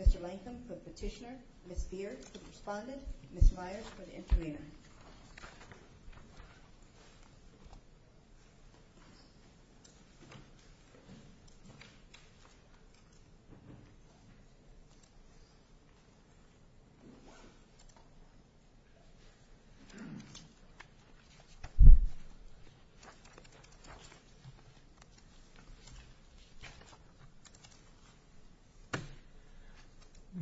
Mr. Lankham for the petitioner, Ms. Beard for the respondent, Ms. Myers for the intervener.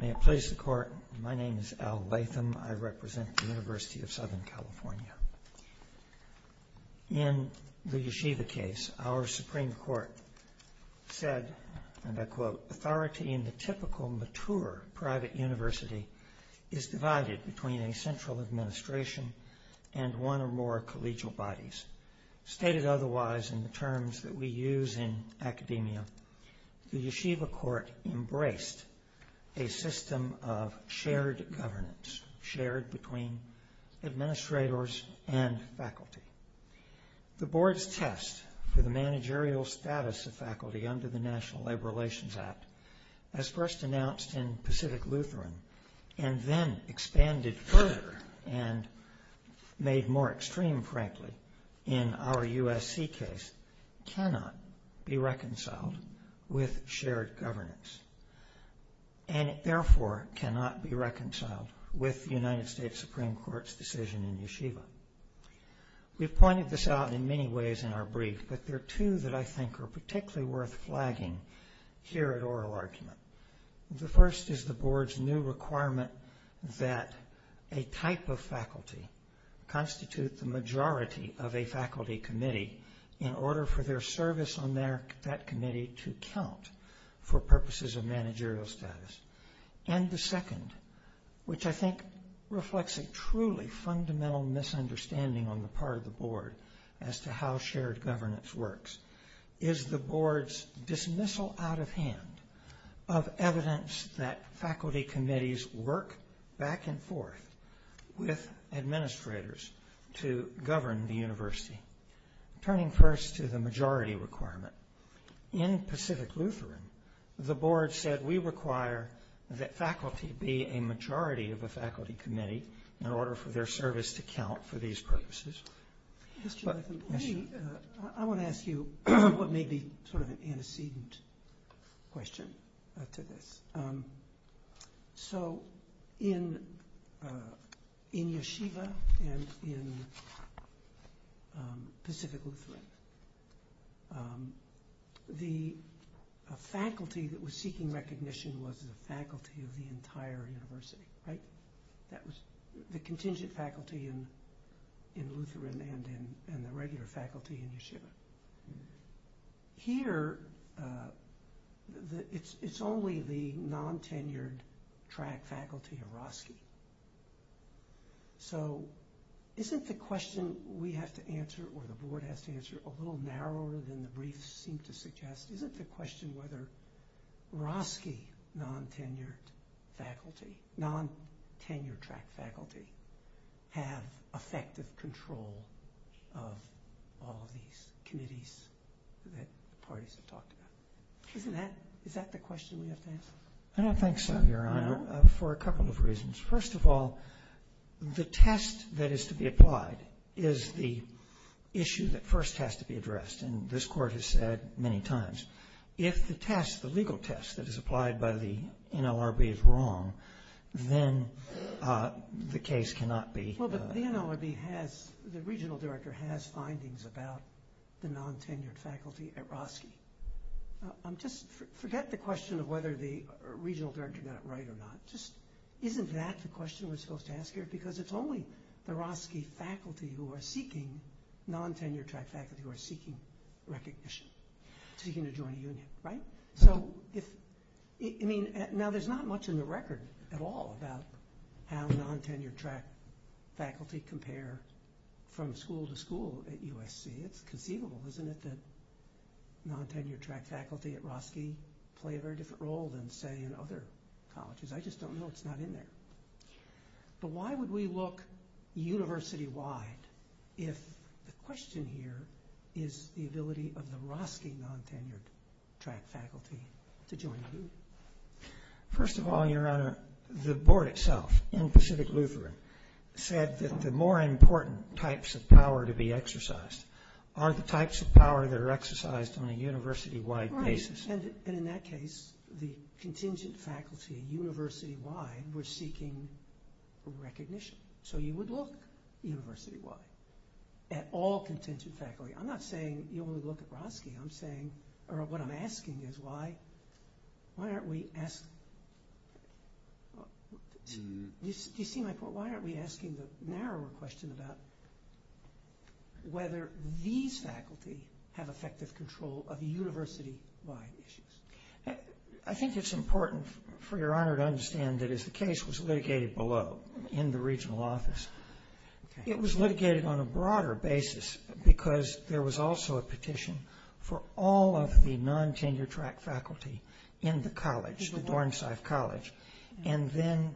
May it please the Court, my name is Al Latham. I represent the University of Southern CA. In the Yeshiva case, our Supreme Court said, and I quote, authority in the typical mature private university is divided between a central administration and one or more collegial bodies. Stated otherwise in the terms that we use in academia, the Yeshiva Court embraced a system of shared governance, shared between administrators and faculty. The Board's test for the managerial status of faculty under the National Labor Relations Act, as first announced in Pacific Lutheran, and then expanded further and made more extreme, frankly, in our USC case, cannot be reconciled with shared governance. And it therefore cannot be reconciled with the United States Supreme Court's decision in Yeshiva. We've pointed this out in many ways in our brief, but there are two that I think are particularly worth flagging here at oral argument. The first is the Board's new requirement that a type of faculty constitute the majority of a faculty committee in order for their service on that committee to count for purposes of managerial status. And the second, which I think reflects a truly fundamental misunderstanding on the part of the Board as to how shared governance works, is the Board's dismissal out of hand of evidence that faculty committees work back and forth with administrators to govern the university. Turning first to the majority requirement. In Pacific Lutheran, the Board said we require that faculty be a majority of a faculty committee in order for their service to count for these purposes. I want to ask you what may be sort of an antecedent question to this. So in Yeshiva and in Pacific Lutheran, the faculty that was seeking recognition was the faculty of the entire university, right? That was the contingent faculty in Lutheran and the regular faculty in Yeshiva. Here, it's only the non-tenured track faculty of Roski. So isn't the question we have to answer, or the Board has to answer, a little narrower than the briefs seem to suggest? Is it the question whether Roski non-tenured faculty, non-tenured track faculty, have effective control of all of these committees that the parties have talked about? Is that the question we have to answer? I don't think so, Your Honor, for a couple of reasons. First of all, the test that is to be applied is the issue that first has to be addressed. And this Court has said many times, if the test, the legal test that is applied by the NLRB is wrong, then the case cannot be... Well, but the NLRB has, the regional director has findings about the non-tenured faculty at Roski. Just forget the question of whether the regional director got it right or not. Just isn't that the question we're supposed to ask here? Because it's only the Roski faculty who are seeking, non-tenured track faculty who are seeking recognition, seeking to join a union. Right? So if, I mean, now there's not much in the record at all about how non-tenured track faculty compare from school to school at USC. It's conceivable, isn't it, that non-tenured track faculty at Roski play a very different role than, say, in other colleges? I just don't know. It's not in there. But why would we look university-wide if the question here is the ability of the Roski non-tenured track faculty to join a union? First of all, Your Honor, the board itself in Pacific Lutheran said that the more important types of power to be exercised are the types of power that are exercised on a university-wide basis. And in that case, the contingent faculty university-wide were seeking recognition. So you would look university-wide at all contingent faculty. I'm not saying you would look at Roski. I'm saying, or what I'm asking is why aren't we asking, do you see my point? Why aren't we asking the narrower question about whether these faculty have effective control of university-wide issues? I think it's important for Your Honor to understand that as the case was litigated below in the regional office, it was litigated on a broader basis because there was also a petition for all of the non-tenured track faculty in the college, the Dornsife College. And then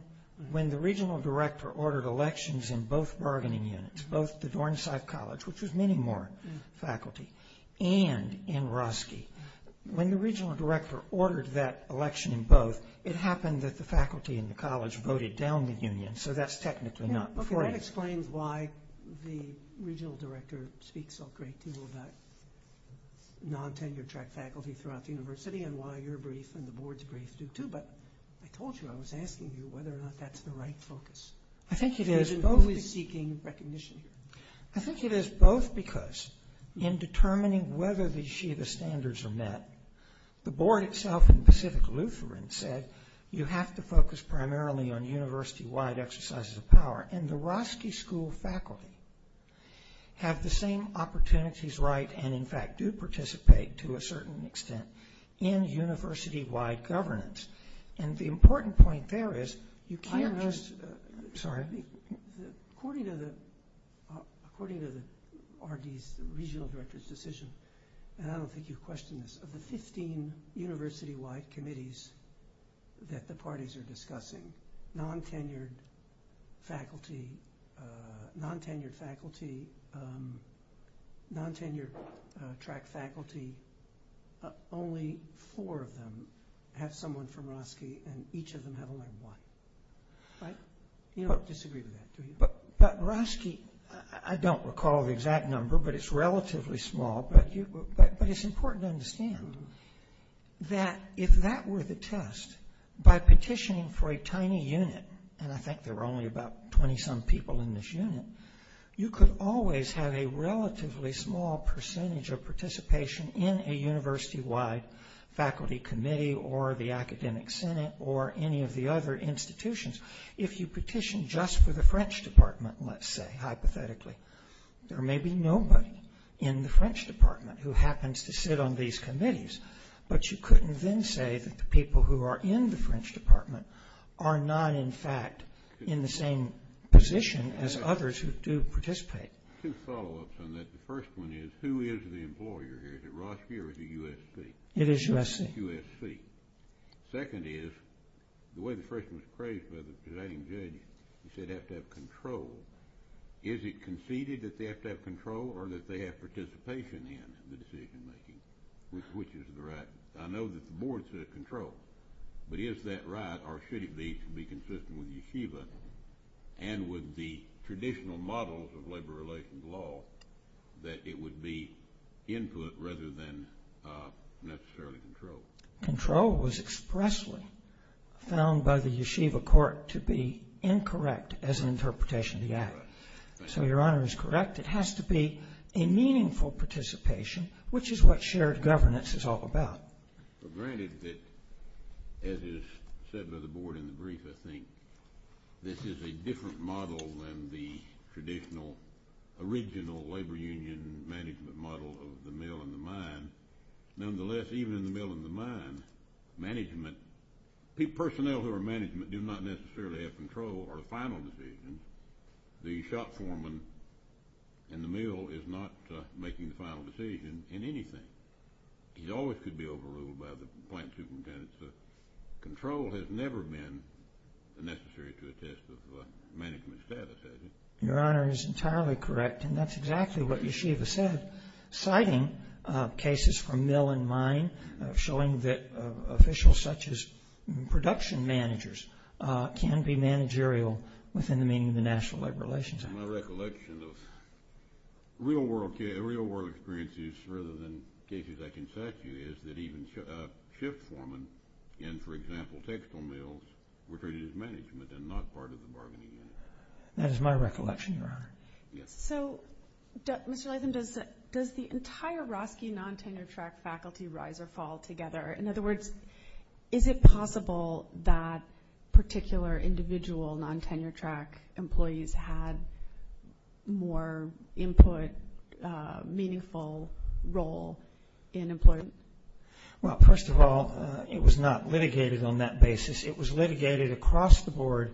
when the regional director ordered elections in both bargaining units, both the Dornsife College, which was many more faculty, and in Roski, when the regional director ordered that election in both, it happened that the faculty in the college voted down the union. So that's technically not before you. Okay, that explains why the regional director speaks a great deal about non-tenured track faculty throughout the university and why your brief and the board's brief do, too. But I told you I was asking you whether or not that's the right focus. I think it is. Because we're always seeking recognition here. I think it is both because in determining whether the Shida standards are met, the board itself in Pacific Lutheran said you have to focus primarily on university-wide exercises of power. And the Roski School faculty have the same opportunities, right, and in fact do participate to a certain extent in university-wide governance. And the important point there is you can't just – According to the RD's regional director's decision, and I don't think you've questioned this, of the 15 university-wide committees that the parties are discussing, non-tenured faculty, non-tenured track faculty, only four of them have someone from Roski, and each of them have only one, right? You don't disagree with that, do you? But Roski, I don't recall the exact number, but it's relatively small, but it's important to understand that if that were the test, by petitioning for a tiny unit, and I think there were only about 20-some people in this unit, you could always have a relatively small percentage of participation in a university-wide faculty committee or the academic senate or any of the other institutions. If you petition just for the French department, let's say, hypothetically, there may be nobody in the French department who happens to sit on these committees, but you couldn't then say that the people who are in the French department are not in fact in the same position as others who do participate. Two follow-ups on that. The first one is who is the employer here? Is it Roski or is it USC? It is USC. It is USC. Second is the way the question was phrased by the presiding judge, he said you have to have control. Is it conceded that they have to have control or that they have participation in the decision-making, which is the right? I know that the board said control, but is that right or should it be to be consistent with Yeshiva and with the traditional models of labor relations law that it would be input rather than necessarily control? Control was expressly found by the Yeshiva court to be incorrect as an interpretation of the act. So Your Honor is correct. It has to be a meaningful participation, which is what shared governance is all about. But granted that, as is said by the board in the brief, I think this is a different model than the traditional original labor union management model of the mill and the mine. Nonetheless, even in the mill and the mine, management, personnel who are management do not necessarily have control over the final decision. The shop foreman in the mill is not making the final decision in anything. He always could be overruled by the plant superintendent. So control has never been necessary to attest to management status, has it? Your Honor is entirely correct, and that's exactly what Yeshiva said. Citing cases from mill and mine, showing that officials such as production managers can be managerial within the meaning of the national labor relations act. My recollection of real world experiences rather than cases I can cite to you is that even shift foreman in, for example, textile mills were treated as management and not part of the bargaining unit. That is my recollection, Your Honor. So, Mr. Latham, does the entire Roski non-tenure track faculty rise or fall together? In other words, is it possible that particular individual non-tenure track employees had more input, meaningful role in employment? Well, first of all, it was not litigated on that basis. It was litigated across the board,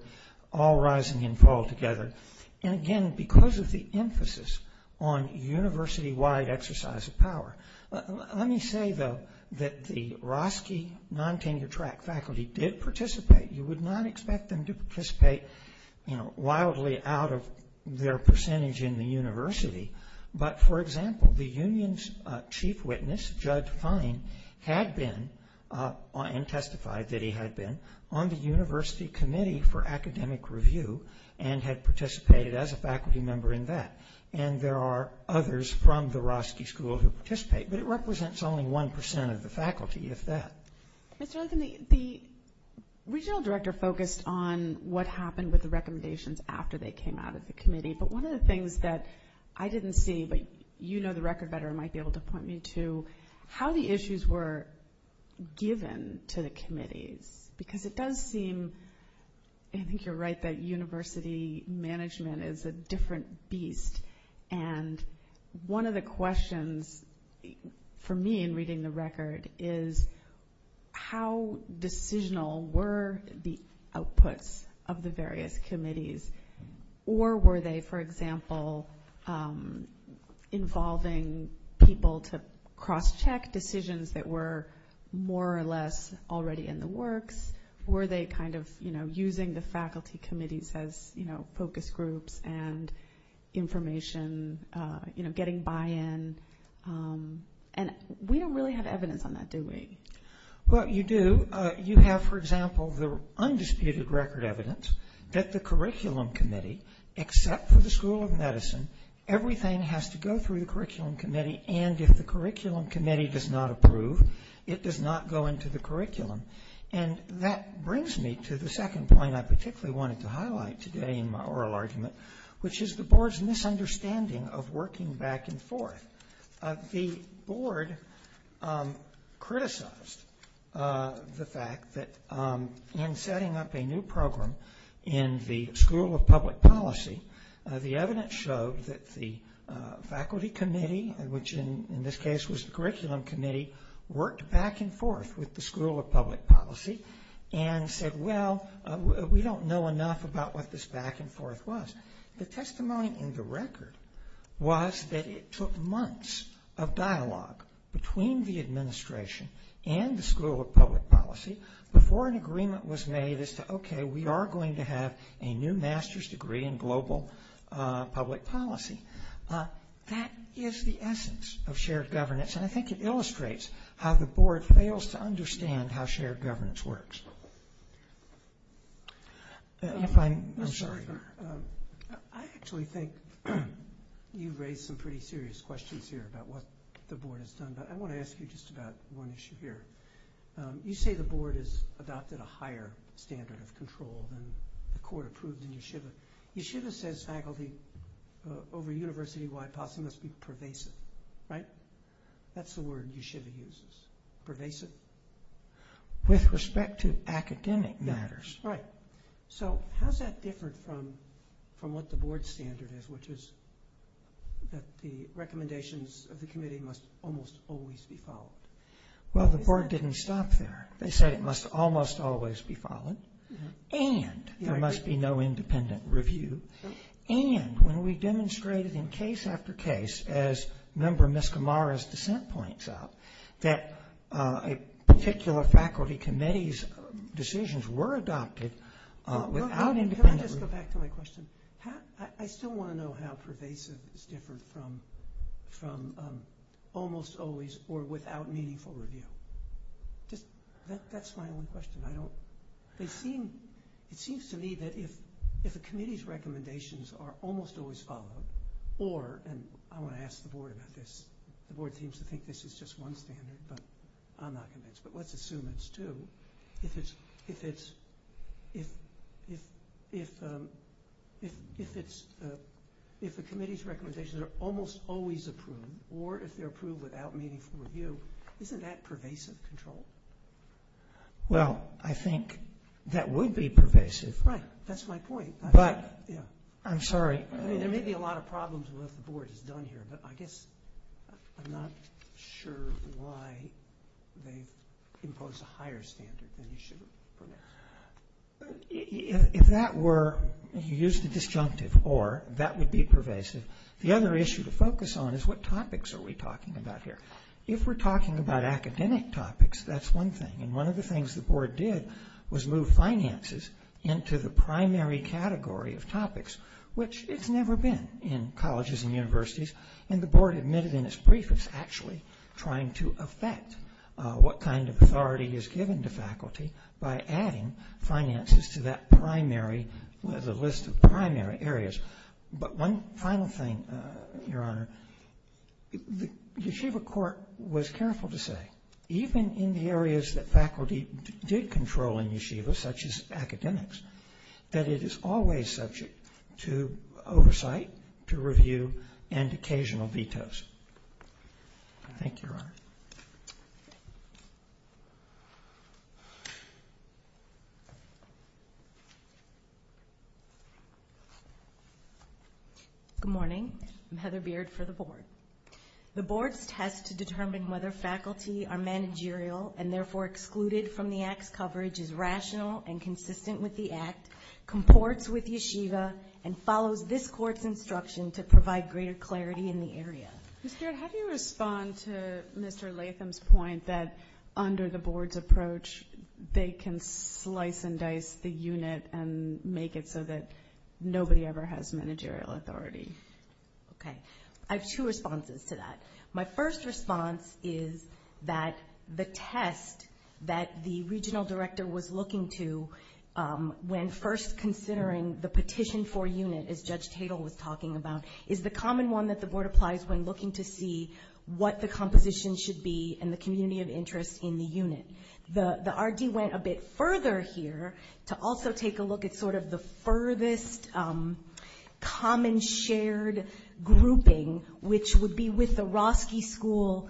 all rising and falling together. And, again, because of the emphasis on university-wide exercise of power. Let me say, though, that the Roski non-tenure track faculty did participate. You would not expect them to participate, you know, wildly out of their percentage in the university. But, for example, the union's chief witness, Judge Fine, had been and testified that he had been on the university committee for academic review and had participated as a faculty member in that. And there are others from the Roski school who participate, but it represents only 1% of the faculty, if that. Mr. Latham, the regional director focused on what happened with the recommendations after they came out of the committee, but one of the things that I didn't see, but you know the record better and might be able to point me to, how the issues were given to the committees because it does seem, I think you're right, that university management is a different beast. And one of the questions for me in reading the record is how decisional were the outputs of the various committees or were they, for example, involving people to cross-check decisions that were more or less already in the works or were they kind of, you know, using the faculty committees as, you know, focus groups and information, you know, getting buy-in, and we don't really have evidence on that, do we? Well, you do. You have, for example, the undisputed record evidence that the curriculum committee, except for the School of Medicine, everything has to go through the curriculum committee, and if the curriculum committee does not approve, it does not go into the curriculum. And that brings me to the second point I particularly wanted to highlight today in my oral argument, which is the board's misunderstanding of working back and forth. The board criticized the fact that in setting up a new program in the School of Public Policy, the evidence showed that the faculty committee, which in this case was the curriculum committee, worked back and forth with the School of Public Policy and said, well, we don't know enough about what this back and forth was. The testimony in the record was that it took months of dialogue between the administration and the School of Public Policy before an agreement was made as to, okay, we are going to have a new master's degree in global public policy. That is the essence of shared governance, and I think it illustrates how the board fails to understand how shared governance works. I'm sorry. I actually think you've raised some pretty serious questions here about what the board has done, but I want to ask you just about one issue here. You say the board has adopted a higher standard of control than the court approved in Yeshiva. Yeshiva says faculty over university-wide policy must be pervasive, right? That's the word Yeshiva uses, pervasive. With respect to academic matters. Right. So how is that different from what the board standard is, which is that the recommendations of the committee must almost always be followed? Well, the board didn't stop there. They said it must almost always be followed, and there must be no independent review, and when we demonstrated in case after case, as Member Miskimara's dissent points out, that a particular faculty committee's decisions were adopted without independent review. Can I just go back to my question? I still want to know how pervasive is different from almost always or without meaningful review. That's my only question. It seems to me that if a committee's recommendations are almost always followed, or, and I want to ask the board about this, the board seems to think this is just one standard, but I'm not convinced, but let's assume it's two, if the committee's recommendations are almost always approved, or if they're approved without meaningful review, isn't that pervasive control? Well, I think that would be pervasive. Right, that's my point. But, I'm sorry. There may be a lot of problems with what the board has done here, but I guess I'm not sure why they've imposed a higher standard than you should have. If that were, you used a disjunctive, or that would be pervasive. The other issue to focus on is what topics are we talking about here? If we're talking about academic topics, that's one thing, and one of the things the board did was move finances into the primary category of topics, which it's never been in colleges and universities, and the board admitted in its brief it's actually trying to affect what kind of authority is given to faculty by adding finances to that primary, the list of primary areas. But one final thing, Your Honor, the yeshiva court was careful to say, even in the areas that faculty did control in yeshiva, such as academics, that it is always subject to oversight, to review, and occasional vetoes. Thank you, Your Honor. Good morning. I'm Heather Beard for the board. The board's test to determine whether faculty are managerial and therefore excluded from the act's coverage is rational and consistent with the act, comports with yeshiva, and follows this court's instruction to provide greater clarity in the area. Ms. Beard, how do you respond to Mr. Latham's point that under the board's approach, they can slice and dice the unit and make it so that nobody ever has managerial authority? Okay. I have two responses to that. My first response is that the test that the regional director was looking to when first considering the petition for unit, as Judge Tatel was talking about, is the common one that the board applies when looking to see what the composition should be and the community of interest in the unit. The RD went a bit further here to also take a look at sort of the furthest common shared grouping, which would be with the Roski School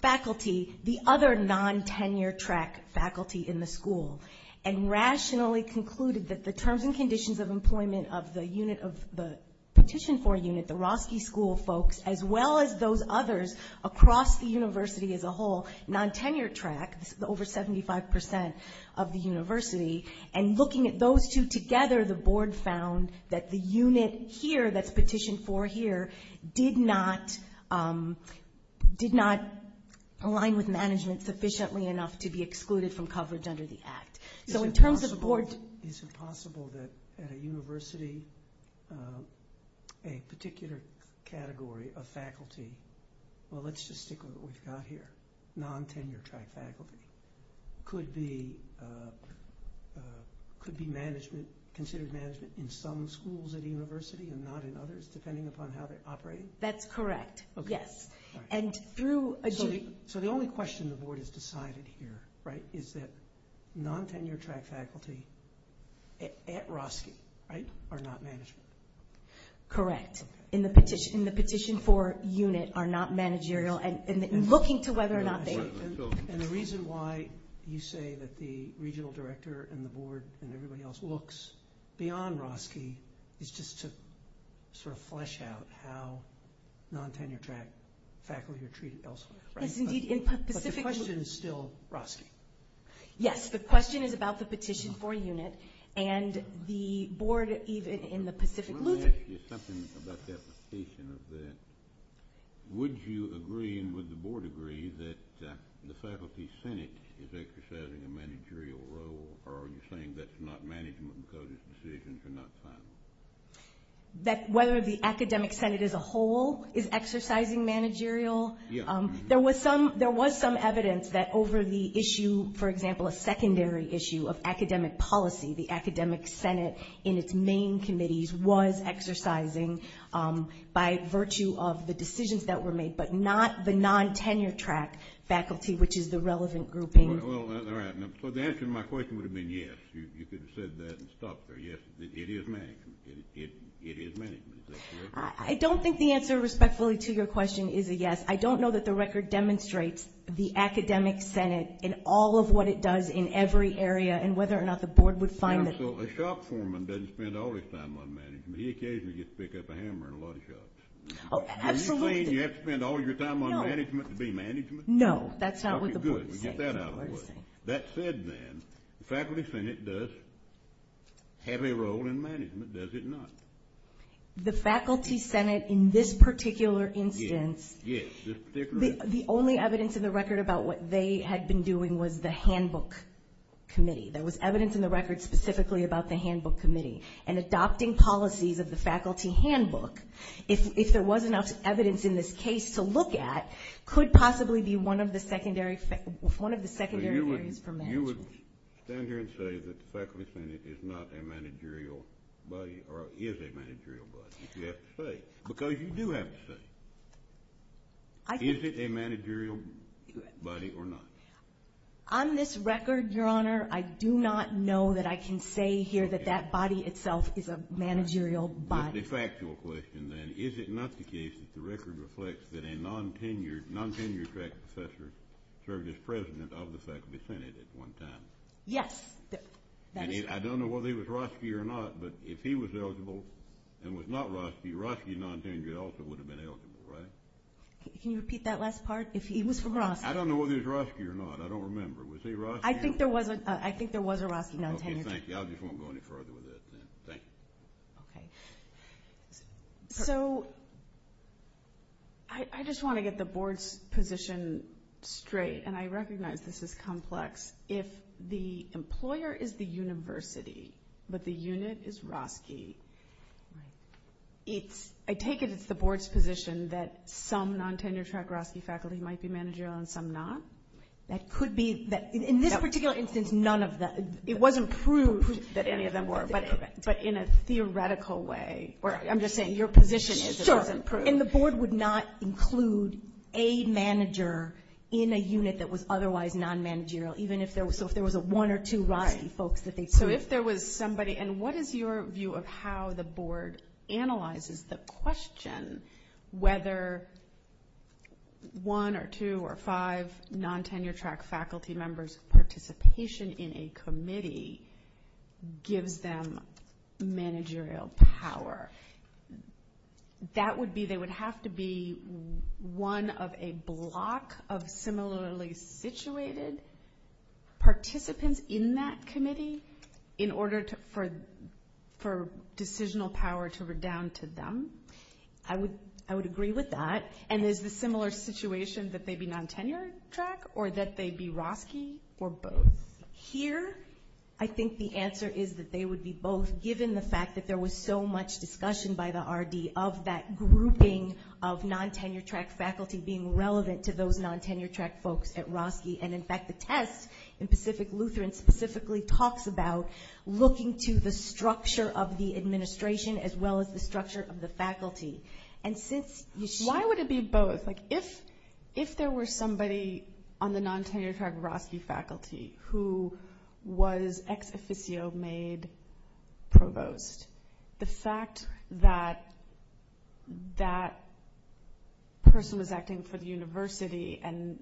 faculty, the other non-tenure track faculty in the school, and rationally concluded that the terms and conditions of employment of the petition for unit, the Roski School folks, as well as those others across the university as a whole, non-tenure track, over 75% of the university, and looking at those two together, the board found that the unit here that's petitioned for here did not align with management sufficiently enough to be excluded from coverage under the act. So in terms of the board... Is it possible that at a university, a particular category of faculty, well, let's just stick with what we've got here, non-tenure track faculty, could be considered management in some schools at a university and not in others, depending upon how they operate? That's correct, yes. So the only question the board has decided here, right, is that non-tenure track faculty at Roski, right, are not management. Correct. In the petition for unit are not managerial, and looking to whether or not they... And the reason why you say that the regional director and the board and everybody else looks beyond Roski is just to sort of flesh out how non-tenure track faculty are treated elsewhere, right? Yes, indeed. But the question is still Roski. Yes, the question is about the petition for unit, and the board even in the Pacific Lutheran... Let me ask you something about the application of that. Would you agree and would the board agree that the faculty senate is exercising a managerial role, or are you saying that's not management because its decisions are not final? That whether the academic senate as a whole is exercising managerial? Yes. There was some evidence that over the issue, for example, a secondary issue of academic policy, the academic senate in its main committees was exercising by virtue of the decisions that were made, but not the non-tenure track faculty, which is the relevant grouping. All right. So the answer to my question would have been yes. You could have said that and stopped there. Yes, it is management. It is management. Is that correct? I don't think the answer respectfully to your question is a yes. I don't know that the record demonstrates the academic senate in all of what it does in every area and whether or not the board would find that... A shop foreman doesn't spend all his time on management. He occasionally gets to pick up a hammer in a lot of shops. Absolutely. Are you saying you have to spend all your time on management to be management? No, that's not what the board is saying. Okay, good. Get that out of the way. That said, then, the faculty senate does have a role in management, does it not? The faculty senate in this particular instance... Yes, this particular instance. The only evidence in the record about what they had been doing was the handbook committee. There was evidence in the record specifically about the handbook committee, and adopting policies of the faculty handbook, if there was enough evidence in this case to look at, could possibly be one of the secondary areas for management. So you would stand here and say that the faculty senate is not a managerial body, or is a managerial body, if you have to say, because you do have to say. Is it a managerial body or not? On this record, Your Honor, I do not know that I can say here that that body itself is a managerial body. A factual question, then. Is it not the case that the record reflects that a non-tenured track professor served as president of the faculty senate at one time? Yes. I don't know whether he was Roski or not, but if he was eligible and was not Roski, the Roski non-tenured also would have been eligible, right? Can you repeat that last part? If he was from Roski. I don't know whether he was Roski or not. I don't remember. Was he Roski? I think there was a Roski non-tenured. Okay, thank you. I just won't go any further with that, then. Thank you. Okay. So I just want to get the Board's position straight, and I recognize this is complex. If the employer is the university, but the unit is Roski, I take it it's the Board's position that some non-tenured track Roski faculty might be managerial and some not? That could be. In this particular instance, none of them. It wasn't proved that any of them were, but in a theoretical way, or I'm just saying your position is it wasn't proved. And the Board would not include a manager in a unit that was otherwise non-managerial, even if there was a one or two Roski folks that they proved. So if there was somebody, and what is your view of how the Board analyzes the question whether one or two or five non-tenured track faculty members' participation in a committee gives them managerial power? That would be they would have to be one of a block of similarly situated participants in that committee in order for decisional power to redound to them. I would agree with that. And is the similar situation that they be non-tenured track or that they be Roski or both? Here, I think the answer is that they would be both, given the fact that there was so much discussion by the RD of that grouping of non-tenured track faculty being relevant to those non-tenured track folks at Roski. And, in fact, the test in Pacific Lutheran specifically talks about looking to the structure of the administration as well as the structure of the faculty. Why would it be both? If there were somebody on the non-tenured track Roski faculty who was ex-officio made provost, the fact that that person was acting for the university and,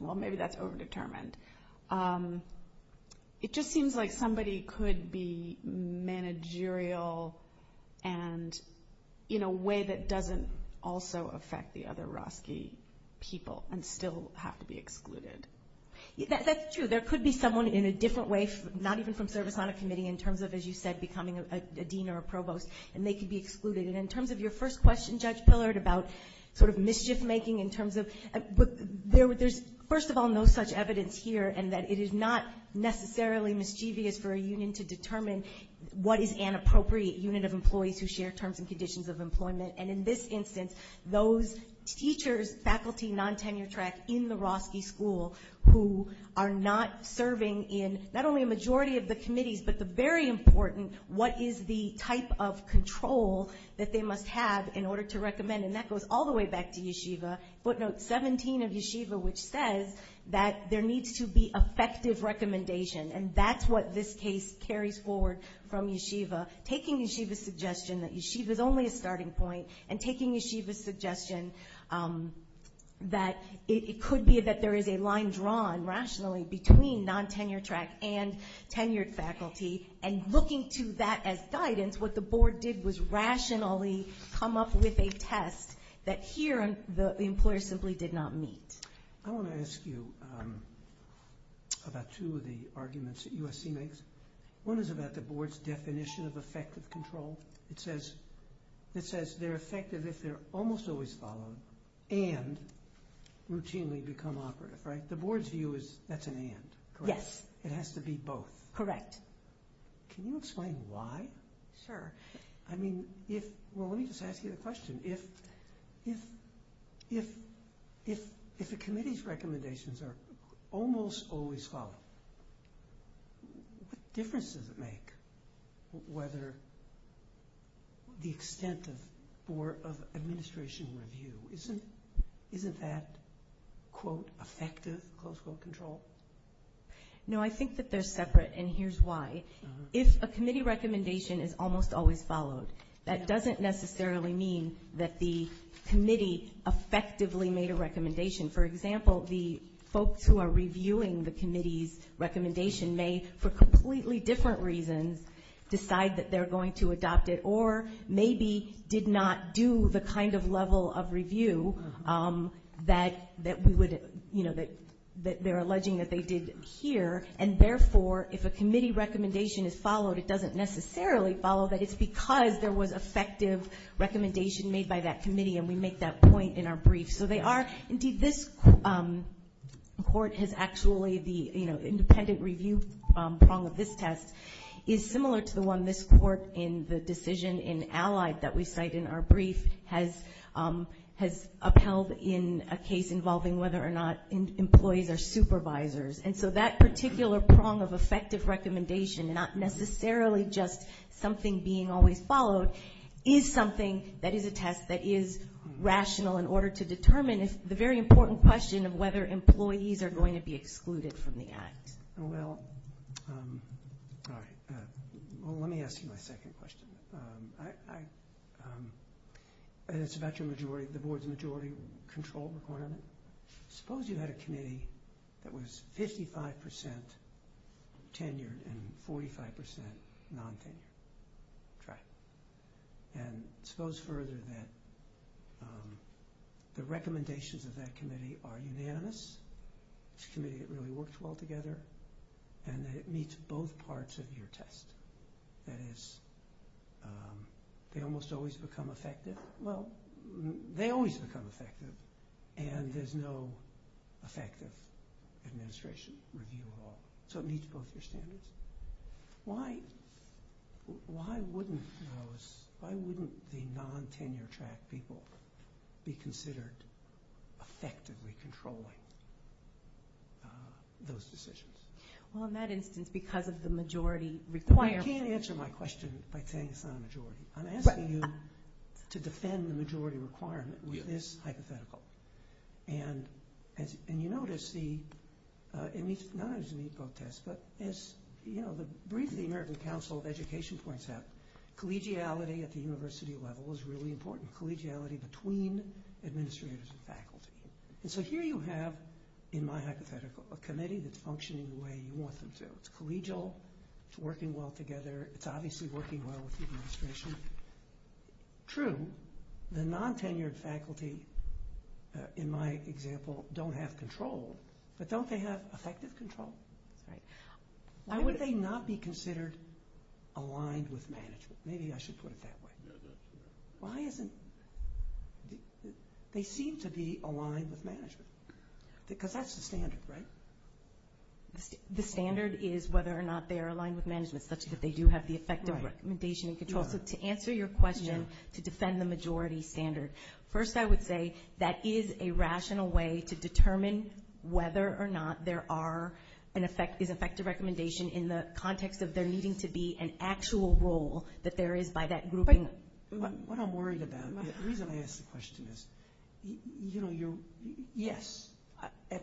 well, maybe that's over-determined, it just seems like somebody could be managerial and in a way that doesn't also affect the other Roski people and still have to be excluded. That's true. There could be someone in a different way, not even from service on a committee, in terms of, as you said, becoming a dean or a provost, and they could be excluded. And in terms of your first question, Judge Pillard, about sort of mischief-making in terms of But there's, first of all, no such evidence here in that it is not necessarily mischievous for a union to determine what is an appropriate unit of employees who share terms and conditions of employment. And in this instance, those teachers, faculty non-tenured track in the Roski school who are not serving in not only a majority of the committees but the very important what is the type of control that they must have in order to recommend. And that goes all the way back to yeshiva, footnote 17 of yeshiva, which says that there needs to be effective recommendation. And that's what this case carries forward from yeshiva, taking yeshiva's suggestion that yeshiva is only a starting point and taking yeshiva's suggestion that it could be that there is a line drawn, rationally, between non-tenured track and tenured faculty. And looking to that as guidance, what the board did was rationally come up with a test that here the employer simply did not meet. I want to ask you about two of the arguments that USC makes. One is about the board's definition of effective control. It says they're effective if they're almost always followed and routinely become operative. The board's view is that's an and, correct? Yes. It has to be both. Correct. Can you explain why? Sure. I mean, if, well, let me just ask you a question. If the committee's recommendations are almost always followed, what difference does it make whether the extent of board of administration review, isn't that, quote, effective, close quote, control? No, I think that they're separate, and here's why. If a committee recommendation is almost always followed, that doesn't necessarily mean that the committee effectively made a recommendation. For example, the folks who are reviewing the committee's recommendation may, for completely different reasons, decide that they're going to adopt it or maybe did not do the kind of level of review that we would, you know, that they're alleging that they did here. And, therefore, if a committee recommendation is followed, it doesn't necessarily follow that it's because there was effective recommendation made by that committee, and we make that point in our brief. So they are, indeed, this court has actually the, you know, independent review prong of this test, is similar to the one this court in the decision in Allied that we cite in our brief has upheld in a case involving whether or not employees are supervisors. And so that particular prong of effective recommendation, not necessarily just something being always followed, is something that is a test that is rational in order to determine the very important question of whether employees are going to be excluded from the act. Thanks. Well, all right. Well, let me ask you my second question. And it's about your majority, the board's majority control requirement. Suppose you had a committee that was 55% tenured and 45% non-tenured. Try it. And suppose further that the recommendations of that committee are unanimous, that it's a committee that really works well together, and that it meets both parts of your test. That is, they almost always become effective. Well, they always become effective, and there's no effective administration review at all. So it meets both your standards. Why wouldn't the non-tenure track people be considered effectively controlling those decisions? Well, in that instance, because of the majority requirement. You can't answer my question by saying it's not a majority. I'm asking you to defend the majority requirement with this hypothetical. And you notice it meets both tests. But as briefly the American Council of Education points out, collegiality at the university level is really important, collegiality between administrators and faculty. And so here you have, in my hypothetical, a committee that's functioning the way you want them to. It's collegial. It's working well together. It's obviously working well with the administration. True. The non-tenured faculty, in my example, don't have control. But don't they have effective control? Right. Why would they not be considered aligned with management? Maybe I should put it that way. Why isn't... They seem to be aligned with management. Because that's the standard, right? The standard is whether or not they are aligned with management, such that they do have the effective recommendation and control. So to answer your question, to defend the majority standard, first I would say that is a rational way to determine whether or not there is effective recommendation in the context of there needing to be an actual role that there is by that grouping. What I'm worried about, the reason I ask the question is, yes, at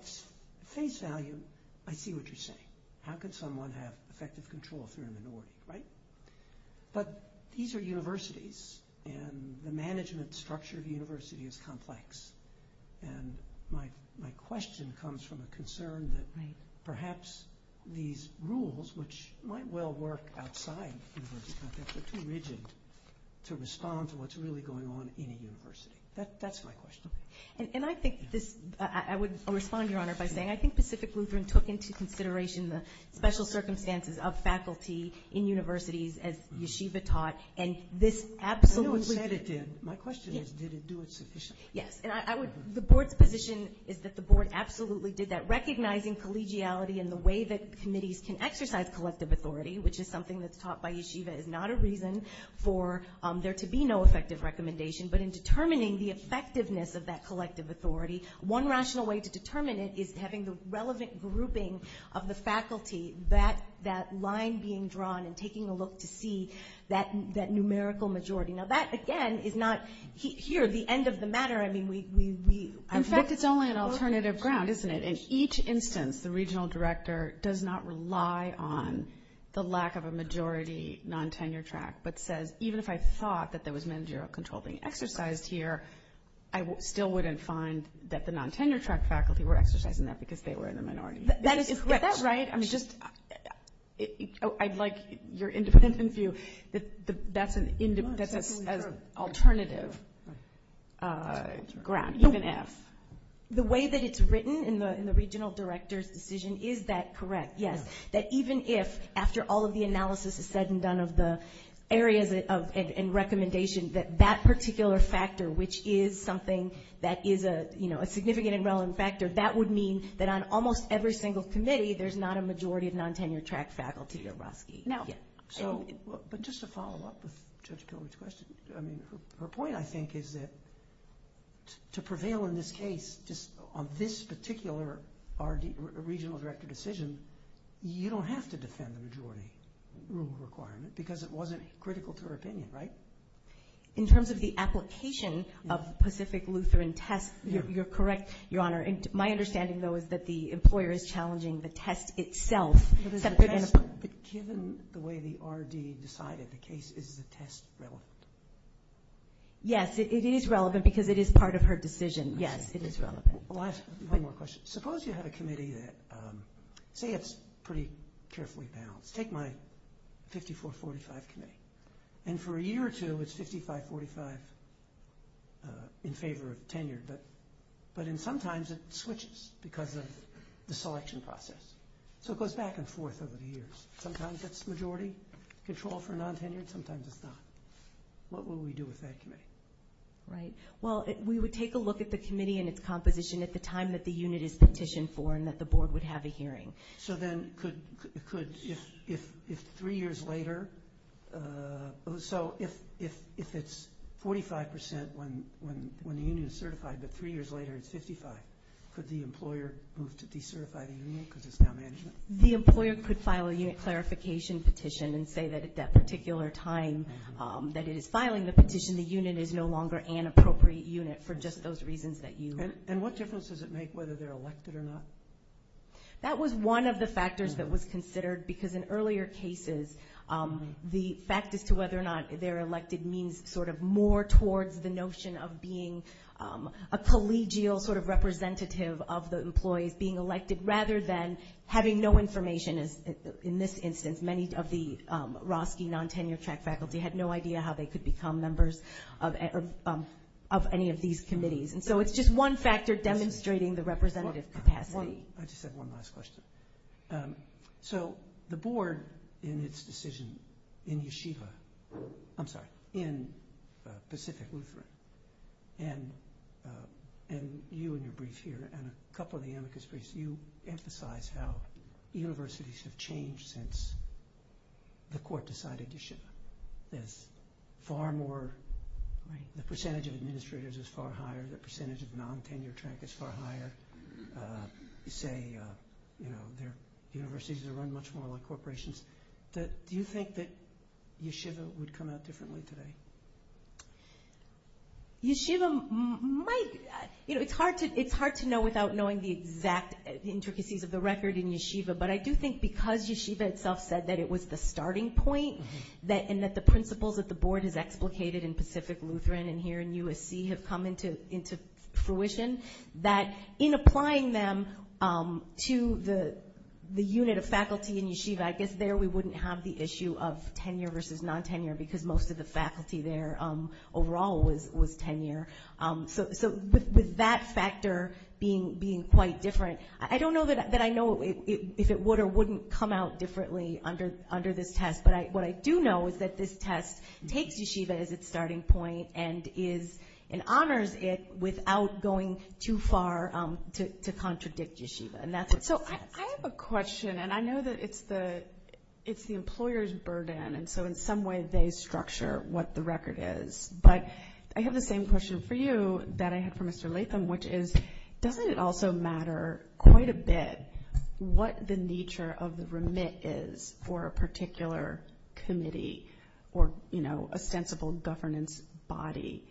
face value, I see what you're saying. How could someone have effective control if they're a minority, right? But these are universities, and the management structure of the university is complex. And my question comes from a concern that perhaps these rules, which might well work outside the university context, are too rigid to respond to what's really going on in a university. That's my question. And I think this... I would respond, Your Honor, by saying I think Pacific Lutheran took into universities, as Yeshiva taught, and this absolutely did. I know it said it did. My question is, did it do it sufficiently? Yes. And the Board's position is that the Board absolutely did that. Recognizing collegiality and the way that committees can exercise collective authority, which is something that's taught by Yeshiva, is not a reason for there to be no effective recommendation. But in determining the effectiveness of that collective authority, one rational way to determine it is having the relevant grouping of the faculty, that line being drawn and taking a look to see that numerical majority. Now that, again, is not here the end of the matter. I mean, we... In fact, it's only an alternative ground, isn't it? In each instance, the regional director does not rely on the lack of a majority non-tenure track, but says, even if I thought that there was managerial control being exercised here, I still wouldn't find that the non-tenure track faculty were exercising that because they were in the minority. That is correct. Is that right? I mean, just... I'd like your independent view that that's an alternative ground, even if. The way that it's written in the regional director's decision is that correct, yes. That even if, after all of the analysis is said and done of the areas and recommendation, that that particular factor, which is something that is a significant and relevant factor, that would mean that on almost every single committee, there's not a majority of non-tenure track faculty at Roski. No. But just to follow up with Judge Pilgrim's question, I mean, her point, I think, is that to prevail in this case, just on this particular regional director decision, you don't have to defend the majority rule requirement because it wasn't critical to her opinion, right? My understanding, though, is that the employer is challenging the test itself. But given the way the RD decided the case, is the test relevant? Yes, it is relevant because it is part of her decision. Yes, it is relevant. One more question. Suppose you have a committee that, say, it's pretty carefully balanced. Take my 54-45 committee. And for a year or two, it's 55-45 in favor of tenured. But then sometimes it switches because of the selection process. So it goes back and forth over the years. Sometimes it's majority control for non-tenured, sometimes it's not. What will we do with that committee? Right. Well, we would take a look at the committee and its composition at the time that the unit is petitioned for and that the board would have a hearing. So then could, if three years later, so if it's 45% when the union is certified, but three years later it's 55, could the employer move to decertify the union because it's now management? The employer could file a unit clarification petition and say that at that particular time that it is filing the petition, the unit is no longer an appropriate unit for just those reasons that you. And what difference does it make whether they're elected or not? That was one of the factors that was considered because in earlier cases, the fact as to whether or not they're elected means sort of more towards the notion of being a collegial sort of representative of the employees being elected rather than having no information. In this instance, many of the Roski non-tenured track faculty had no idea how they could become members of any of these committees. And so it's just one factor demonstrating the representative capacity. I just have one last question. So the board in its decision in Yeshiva, I'm sorry, in Pacific Lutheran, and you in your brief here and a couple of the amicus briefs, you emphasize how universities have changed since the court decided Yeshiva. There's far more, the percentage of administrators is far higher, the percentage of non-tenured track is far higher. You say universities are run much more like corporations. Do you think that Yeshiva would come out differently today? Yeshiva might. It's hard to know without knowing the exact intricacies of the record in Yeshiva, but I do think because Yeshiva itself said that it was the starting point and that the principles that the board has explicated in Pacific Lutheran and here in USC have come into fruition, that in applying them to the unit of faculty in Yeshiva, I guess there we wouldn't have the issue of tenure versus non-tenure because most of the faculty there overall was tenure. So with that factor being quite different, I don't know that I know if it would or wouldn't come out differently under this test. But what I do know is that this test takes Yeshiva as its starting point and honors it without going too far to contradict Yeshiva. So I have a question, and I know that it's the employer's burden, and so in some way they structure what the record is. But I have the same question for you that I had for Mr. Latham, which is doesn't it also matter quite a bit what the nature of the remit is for a particular committee or a sensible governance body?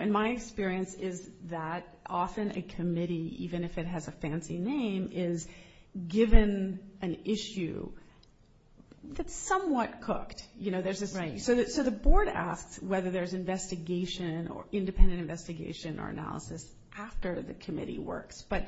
In my experience is that often a committee, even if it has a fancy name, is given an issue that's somewhat cooked. So the board asks whether there's investigation or independent investigation or analysis after the committee works. But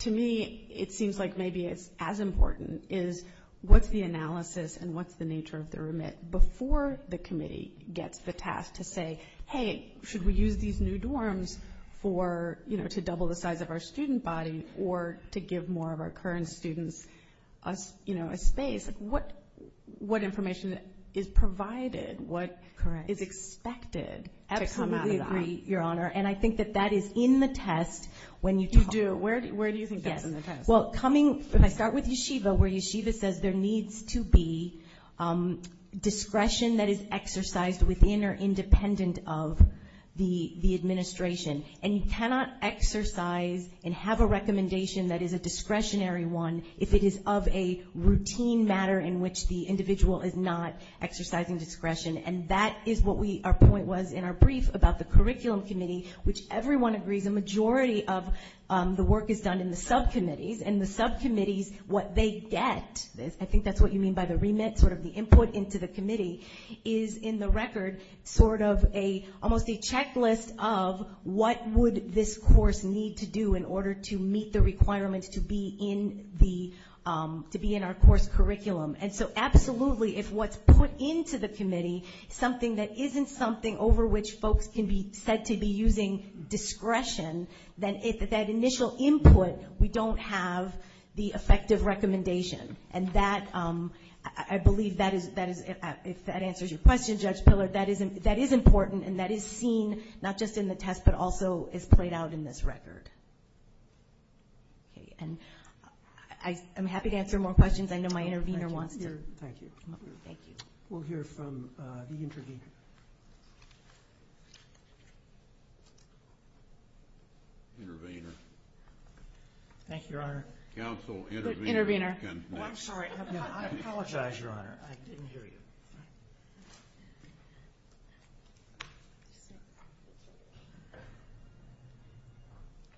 to me it seems like maybe it's as important is what's the analysis and what's the nature of the remit before the committee gets the task to say, hey, should we use these new dorms to double the size of our student body or to give more of our current students a space? What information is provided, what is expected to come out of that? Absolutely agree, Your Honor. And I think that that is in the test when you talk. You do? Where do you think that's in the test? Well, if I start with Yeshiva, where Yeshiva says there needs to be discretion that is exercised within or independent of the administration. And you cannot exercise and have a recommendation that is a discretionary one if it is of a routine matter in which the individual is not exercising discretion. And that is what our point was in our brief about the curriculum committee, which everyone agrees a majority of the work is done in the subcommittees. And the subcommittees, what they get, I think that's what you mean by the remit, sort of the input into the committee, is in the record sort of almost a checklist of what would this course need to do in order to meet the requirements to be in our course curriculum. And so absolutely if what's put into the committee is something that isn't something over which folks can be said to be using discretion, then that initial input, we don't have the effective recommendation. And I believe if that answers your question, Judge Pillar, that is important, and that is seen not just in the test but also is played out in this record. And I'm happy to answer more questions. I know my intervener wants to. Thank you. We'll hear from the intervener. Intervener. Thank you, Your Honor. Counsel, intervener. Intervener. I'm sorry. I apologize, Your Honor. I didn't hear you.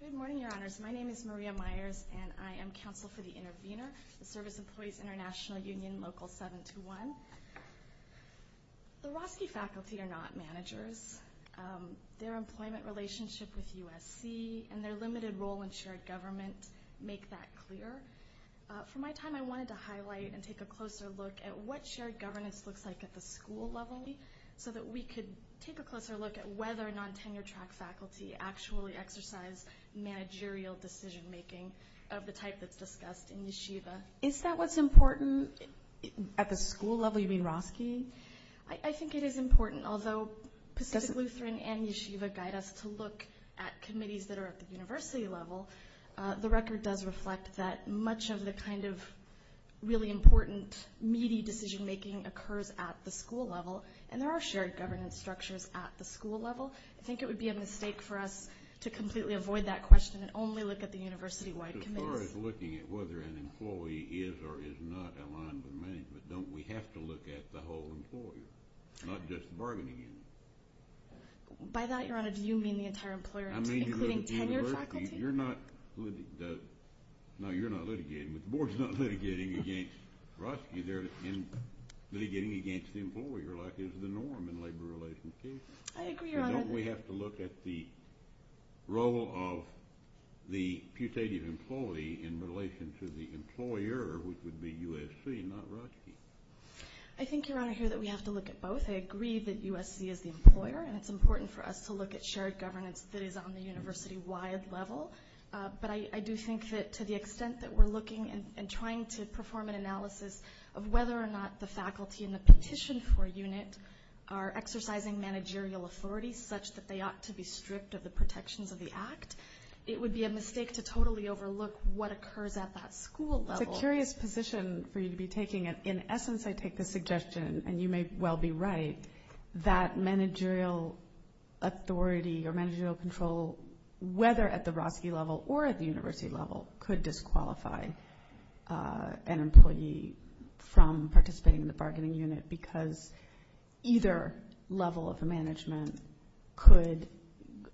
Good morning, Your Honors. My name is Maria Myers, and I am counsel for the intervener, the Service Employees International Union Local 721. The Roski faculty are not managers. Their employment relationship with USC and their limited role in shared government make that clear. For my time, I wanted to highlight and take a closer look at what shared governance looks like at the school level so that we could take a closer look at whether non-tenure-track faculty actually exercise managerial decision-making of the type that's discussed in Yeshiva. Is that what's important at the school level? You mean Roski? I think it is important. Although Pacific Lutheran and Yeshiva guide us to look at committees that are at the university level, the record does reflect that much of the kind of really important, meaty decision-making occurs at the school level, and there are shared governance structures at the school level. I think it would be a mistake for us to completely avoid that question and only look at the university-wide committees. As far as looking at whether an employee is or is not aligned with management, don't we have to look at the whole employer, not just bargaining it? By that, Your Honor, do you mean the entire employer, including tenure faculty? No, you're not litigating. The Board is not litigating against Roski. They're litigating against the employer, like is the norm in labor relations. I agree, Your Honor. Don't we have to look at the role of the putative employee in relation to the employer, which would be USC, not Roski? I think, Your Honor, here that we have to look at both. I agree that USC is the employer, and it's important for us to look at shared governance that is on the university-wide level. But I do think that to the extent that we're looking and trying to perform an analysis of whether or not the faculty in the petition for unit are exercising managerial authority such that they ought to be stripped of the protections of the act, it would be a mistake to totally overlook what occurs at that school level. It's a curious position for you to be taking. In essence, I take the suggestion, and you may well be right, that managerial authority or managerial control, whether at the Roski level or at the university level, could disqualify an employee from participating in the bargaining unit because either level of management could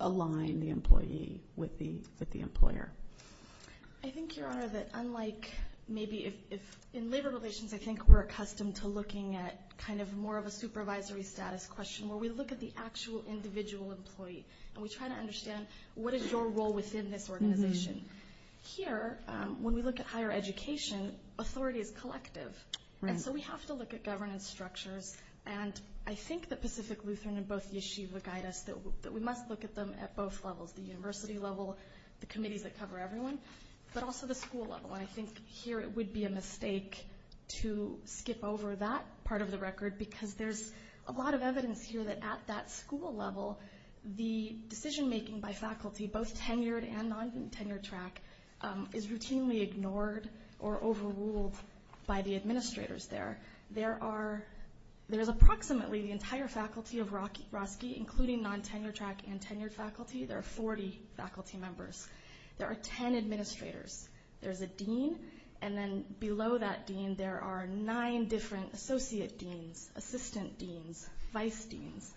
align the employee with the employer. I think, Your Honor, that unlike maybe if in labor relations, I think we're accustomed to looking at kind of more of a supervisory status question where we look at the actual individual employee, and we try to understand what is your role within this organization. Here, when we look at higher education, authority is collective, and so we have to look at governance structures. And I think that Pacific Lutheran and both Yeshiva guide us that we must look at them at both levels, the university level, the committees that cover everyone, but also the school level. And I think here it would be a mistake to skip over that part of the record because there's a lot of evidence here that at that school level, the decision-making by faculty, both tenured and non-tenured track, is routinely ignored or overruled by the administrators there. There is approximately the entire faculty of Roski, including non-tenured track and tenured faculty. There are 40 faculty members. There are 10 administrators. There's a dean, and then below that dean, there are nine different associate deans, assistant deans, vice deans.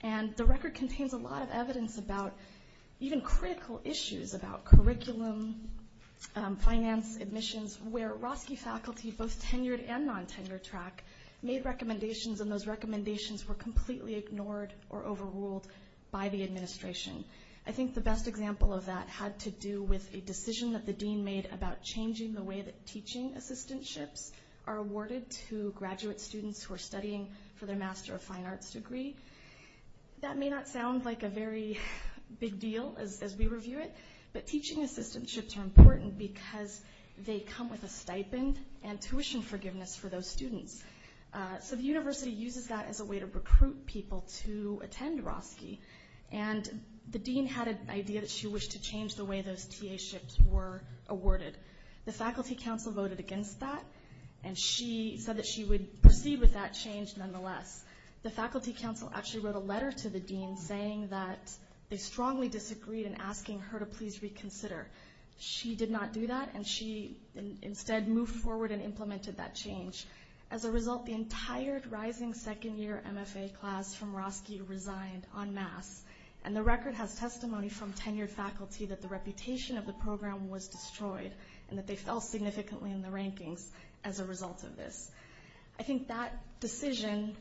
And the record contains a lot of evidence about even critical issues about curriculum, finance, admissions, where Roski faculty, both tenured and non-tenured track, made recommendations, and those recommendations were completely ignored or overruled by the administration. I think the best example of that had to do with a decision that the dean made about changing the way that teaching assistantships are awarded to graduate students who are studying for their Master of Fine Arts degree. That may not sound like a very big deal as we review it, but teaching assistantships are important because they come with a stipend and tuition forgiveness for those students. So the university uses that as a way to recruit people to attend Roski, and the dean had an idea that she wished to change the way those TA-ships were awarded. The faculty council voted against that, and she said that she would proceed with that change nonetheless. The faculty council actually wrote a letter to the dean saying that they strongly disagreed and asking her to please reconsider. She did not do that, and she instead moved forward and implemented that change. As a result, the entire rising second-year MFA class from Roski resigned en masse, and the record has testimony from tenured faculty that the reputation of the program was destroyed and that they fell significantly in the rankings as a result of this. I think that decision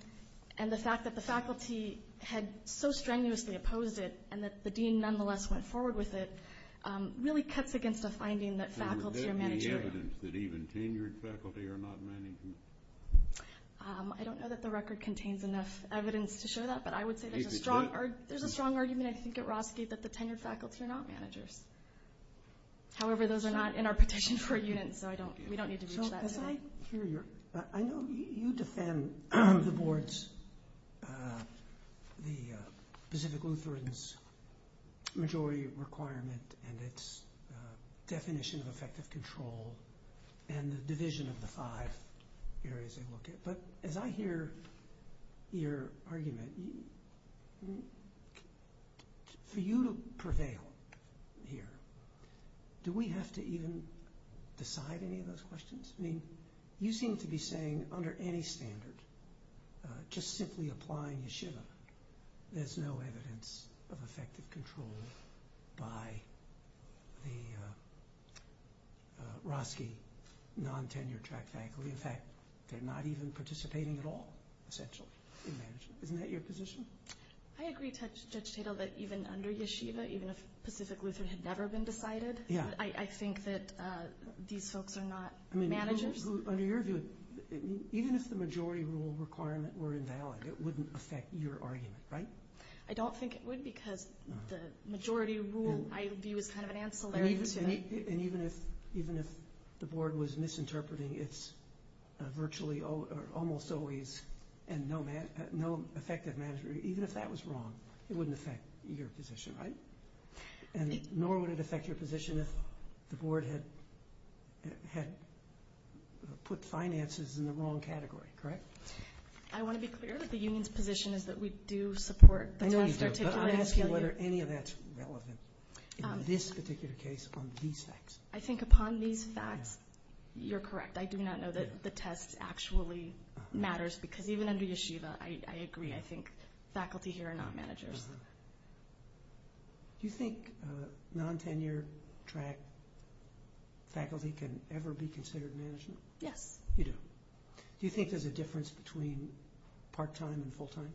and the fact that the faculty had so strenuously opposed it and that the dean nonetheless went forward with it really cuts against the finding that faculty are managerial. Is there evidence that even tenured faculty are not managers? I don't know that the record contains enough evidence to show that, but I would say there's a strong argument, I think, at Roski that the tenured faculty are not managers. However, those are not in our petition for a unit, so we don't need to reach that. As I hear your – I know you defend the board's – the Pacific Lutheran's majority requirement and its definition of effective control and the division of the five areas they look at, but as I hear your argument, for you to prevail here, do we have to even decide any of those questions? I mean, you seem to be saying under any standard, just simply applying yeshiva, there's no evidence of effective control by the Roski non-tenured track faculty. In fact, they're not even participating at all, essentially, in management. Isn't that your position? I agree, Judge Tatel, that even under yeshiva, even if Pacific Lutheran had never been decided, I think that these folks are not managers. I mean, under your view, even if the majority rule requirement were invalid, it wouldn't affect your argument, right? I don't think it would because the majority rule, I view, is kind of an ancillary to it. And even if the board was misinterpreting its virtually or almost always no effective management, even if that was wrong, it wouldn't affect your position, right? Nor would it affect your position if the board had put finances in the wrong category, correct? I want to be clear that the union's position is that we do support the test articulation. I know you do, but I'm asking whether any of that's relevant in this particular case on these facts. I think upon these facts, you're correct. I do not know that the test actually matters because even under yeshiva, I agree, I think faculty here are not managers. Do you think non-tenure-track faculty can ever be considered management? Yes. You do. Do you think there's a difference between part-time and full-time?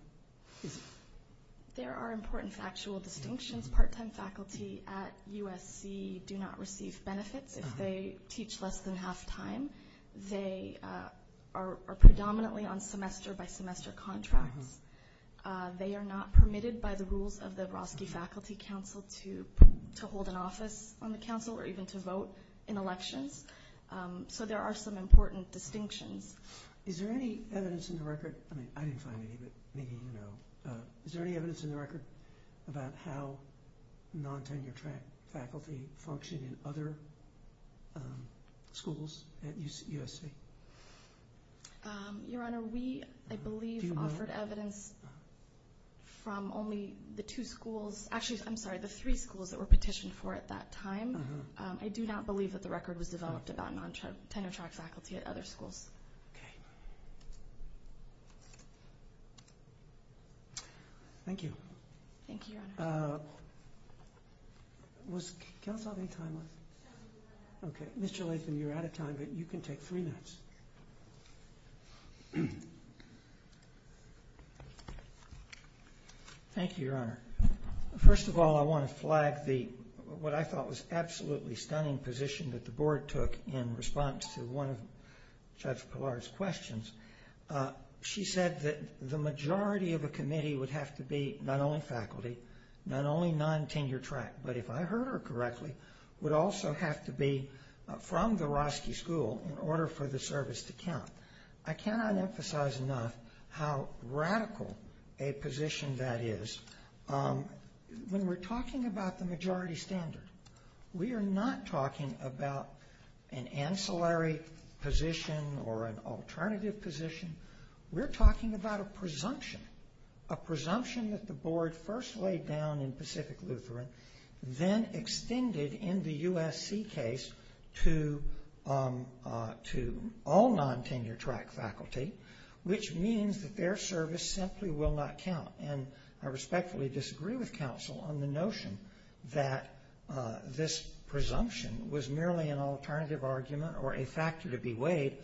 There are important factual distinctions. Part-time faculty at USC do not receive benefits. If they teach less than half-time, they are predominantly on semester-by-semester contracts. They are not permitted by the rules of the Obrosky Faculty Council to hold an office on the council or even to vote in elections. So there are some important distinctions. Is there any evidence in the record? I mean, I didn't find any, but maybe you know. Is there any evidence in the record about how non-tenure-track faculty function in other schools at USC? Your Honor, we, I believe, offered evidence from only the two schools. Actually, I'm sorry, the three schools that were petitioned for at that time. I do not believe that the record was developed about non-tenure-track faculty at other schools. Okay. Thank you. Thank you, Your Honor. Can I still have any time left? Okay. Mr. Latham, you're out of time, but you can take three minutes. Thank you, Your Honor. First of all, I want to flag what I thought was an absolutely stunning position that the Board took in response to one of Judge Pilar's questions. She said that the majority of a committee would have to be not only faculty, not only non-tenure-track, but if I heard her correctly, would also have to be from the Roski School in order for the service to count. I cannot emphasize enough how radical a position that is. When we're talking about the majority standard, we are not talking about an ancillary position or an alternative position. We're talking about a presumption, a presumption that the Board first laid down in Pacific Lutheran, then extended in the USC case to all non-tenure-track faculty, which means that their service simply will not count. And I respectfully disagree with counsel on the notion that this presumption was merely an alternative argument or a factor to be weighed.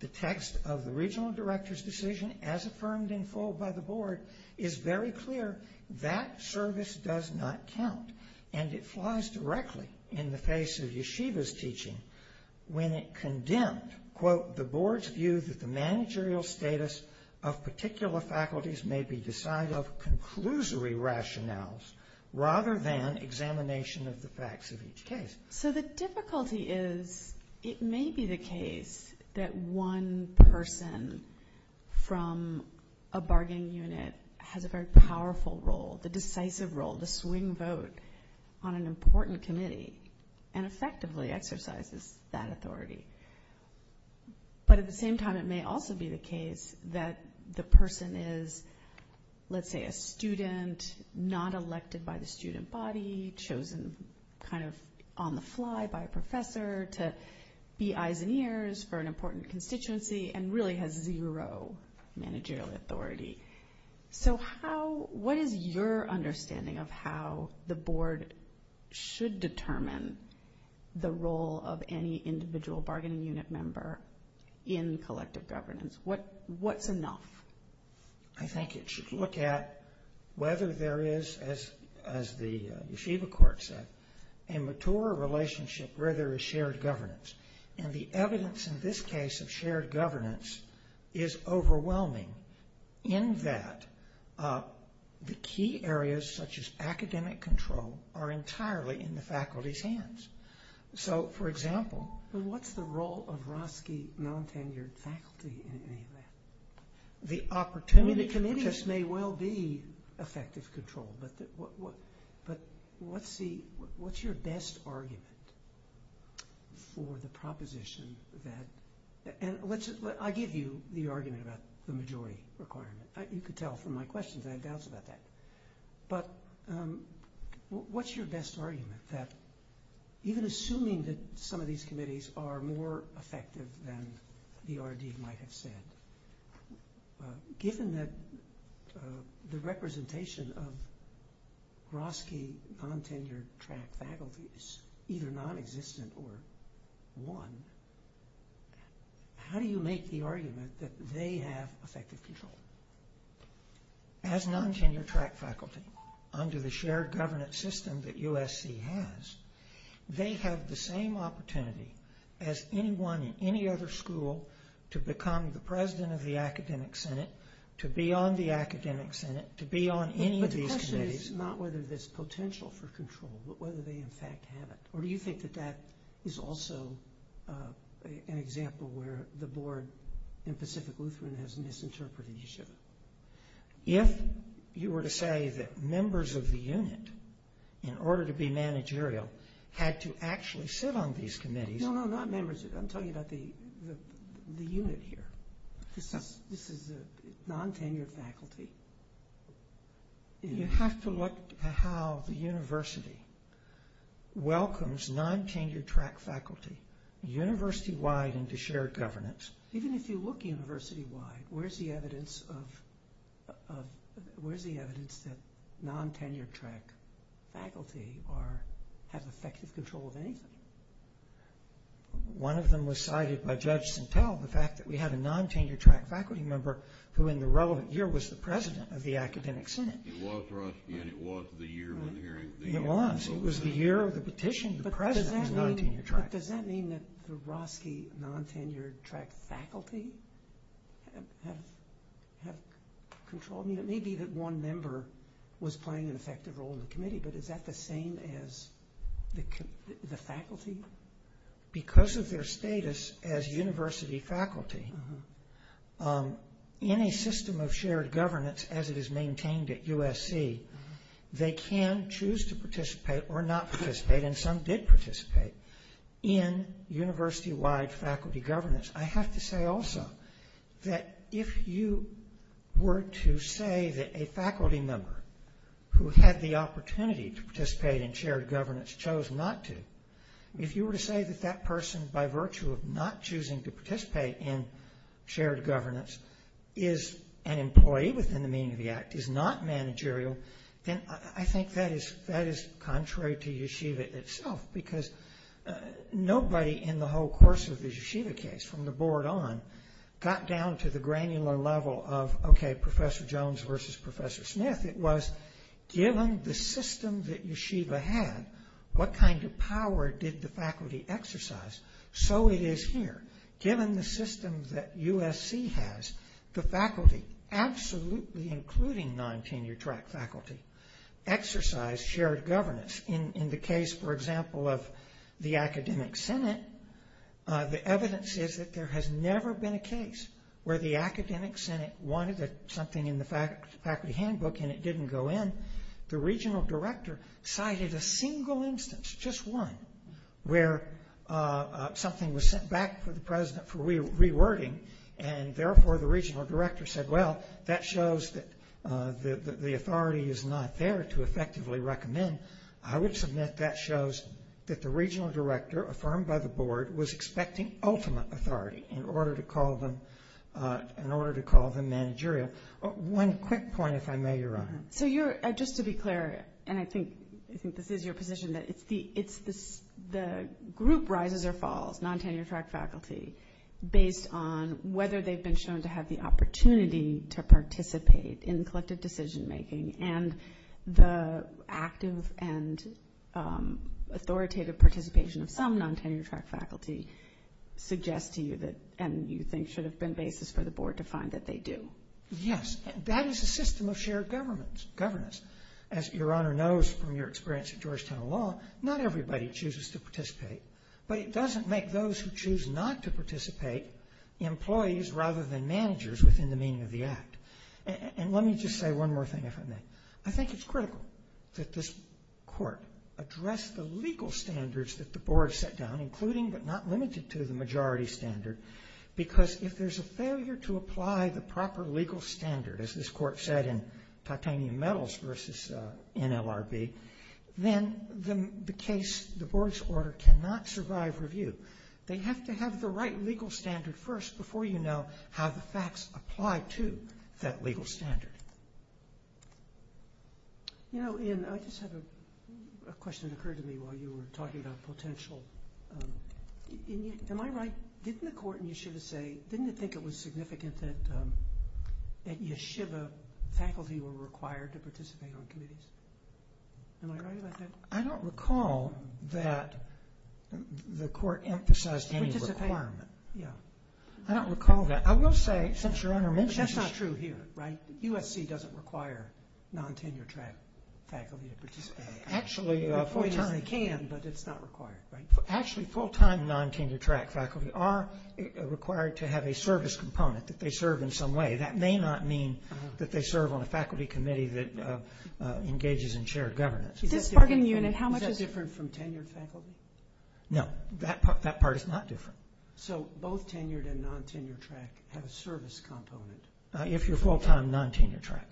The text of the Regional Director's decision, as affirmed in full by the Board, is very clear. That service does not count, and it flies directly in the face of Yeshiva's teaching when it condemned, quote, the Board's view that the managerial status of particular faculties may be decided of conclusory rationales rather than examination of the facts of each case. So the difficulty is it may be the case that one person from a bargaining unit has a very powerful role, the decisive role, the swing vote on an important committee and effectively exercises that authority. But at the same time, it may also be the case that the person is, let's say, a student not elected by the student body, chosen kind of on the fly by a professor to be eyes and ears for an important constituency and really has zero managerial authority. So what is your understanding of how the Board should determine the role of any individual bargaining unit member in collective governance? What's enough? I think it should look at whether there is, as the Yeshiva court said, a mature relationship where there is shared governance. And the evidence in this case of shared governance is overwhelming in that the key areas, such as academic control, are entirely in the faculty's hands. So, for example... But what's the role of Roski non-tenured faculty in any of that? The opportunity committee just may well be effective control. But what's your best argument for the proposition that... I give you the argument about the majority requirement. You can tell from my questions that I have doubts about that. But what's your best argument that even assuming that some of these committees are more effective than the RD might have said, given that the representation of Roski non-tenured track faculty is either non-existent or one, how do you make the argument that they have effective control? As non-tenured track faculty, under the shared governance system that USC has, they have the same opportunity as anyone in any other school to become the president of the academic senate, to be on the academic senate, to be on any of these committees. But the question is not whether there's potential for control, but whether they in fact have it. Or do you think that that is also an example where the board in Pacific Lutheran has misinterpreted Yeshiva? If you were to say that members of the unit, in order to be managerial, had to actually sit on these committees... No, no, not members. I'm talking about the unit here. This is non-tenured faculty. You have to look at how the university welcomes non-tenured track faculty university-wide into shared governance. Even if you look university-wide, where's the evidence that non-tenured track faculty have effective control of anything? One of them was cited by Judge Santel, the fact that we had a non-tenured track faculty member who in the relevant year was the president of the academic senate. It was Roski, and it was the year when the hearing... It was. It was the year of the petition. The president was non-tenured track. Does that mean that the Roski non-tenured track faculty have control? It may be that one member was playing an effective role in the committee, but is that the same as the faculty? Because of their status as university faculty, in a system of shared governance as it is maintained at USC, they can choose to participate or not participate, and some did participate in university-wide faculty governance. I have to say also that if you were to say that a faculty member who had the opportunity to participate in shared governance chose not to, if you were to say that that person, by virtue of not choosing to participate in shared governance, is an employee within the meaning of the act, is not managerial, then I think that is contrary to Yeshiva itself because nobody in the whole course of the Yeshiva case, from the board on, got down to the granular level of, okay, Professor Jones versus Professor Smith. It was given the system that Yeshiva had, what kind of power did the faculty exercise? So it is here. Given the system that USC has, the faculty, absolutely including non-tenure-track faculty, exercise shared governance. In the case, for example, of the academic senate, the evidence is that there has never been a case where the academic senate wanted something in the faculty handbook and it didn't go in. The regional director cited a single instance, just one, where something was sent back to the president for rewording, and therefore the regional director said, well, that shows that the authority is not there to effectively recommend. I would submit that shows that the regional director, affirmed by the board, was expecting ultimate authority in order to call them managerial. One quick point, if I may, Your Honor. So you're, just to be clear, and I think this is your position, that it's the group rises or falls, non-tenure-track faculty, based on whether they've been shown to have the opportunity to participate in collective decision-making, and the active and authoritative participation of some non-tenure-track faculty suggests to you that, and you think should have been basis for the board to find that they do. Yes. That is a system of shared governance. As Your Honor knows from your experience at Georgetown Law, not everybody chooses to participate, but it doesn't make those who choose not to participate employees rather than managers within the meaning of the act. And let me just say one more thing, if I may. I think it's critical that this court address the legal standards that the board set down, including but not limited to the majority standard, because if there's a failure to apply the proper legal standard, as this court said in titanium metals versus NLRB, then the case, the board's order cannot survive review. They have to have the right legal standard first before you know how the facts apply to that legal standard. You know, Ian, I just have a question that occurred to me while you were talking about potential. Am I right? Didn't the court in Yeshiva say, didn't it think it was significant that Yeshiva faculty were required to participate on committees? Am I right about that? I don't recall that the court emphasized any requirement. I don't recall that. I will say, since Your Honor mentioned it. That's not true here, right? USC doesn't require non-tenure-track faculty to participate. Actually, full-time. It can, but it's not required, right? Actually, full-time non-tenure-track faculty are required to have a service component that they serve in some way. That may not mean that they serve on a faculty committee that engages in shared governance. Is that different from tenured faculty? No, that part is not different. So both tenured and non-tenure-track have a service component? If you're full-time, non-tenure-track.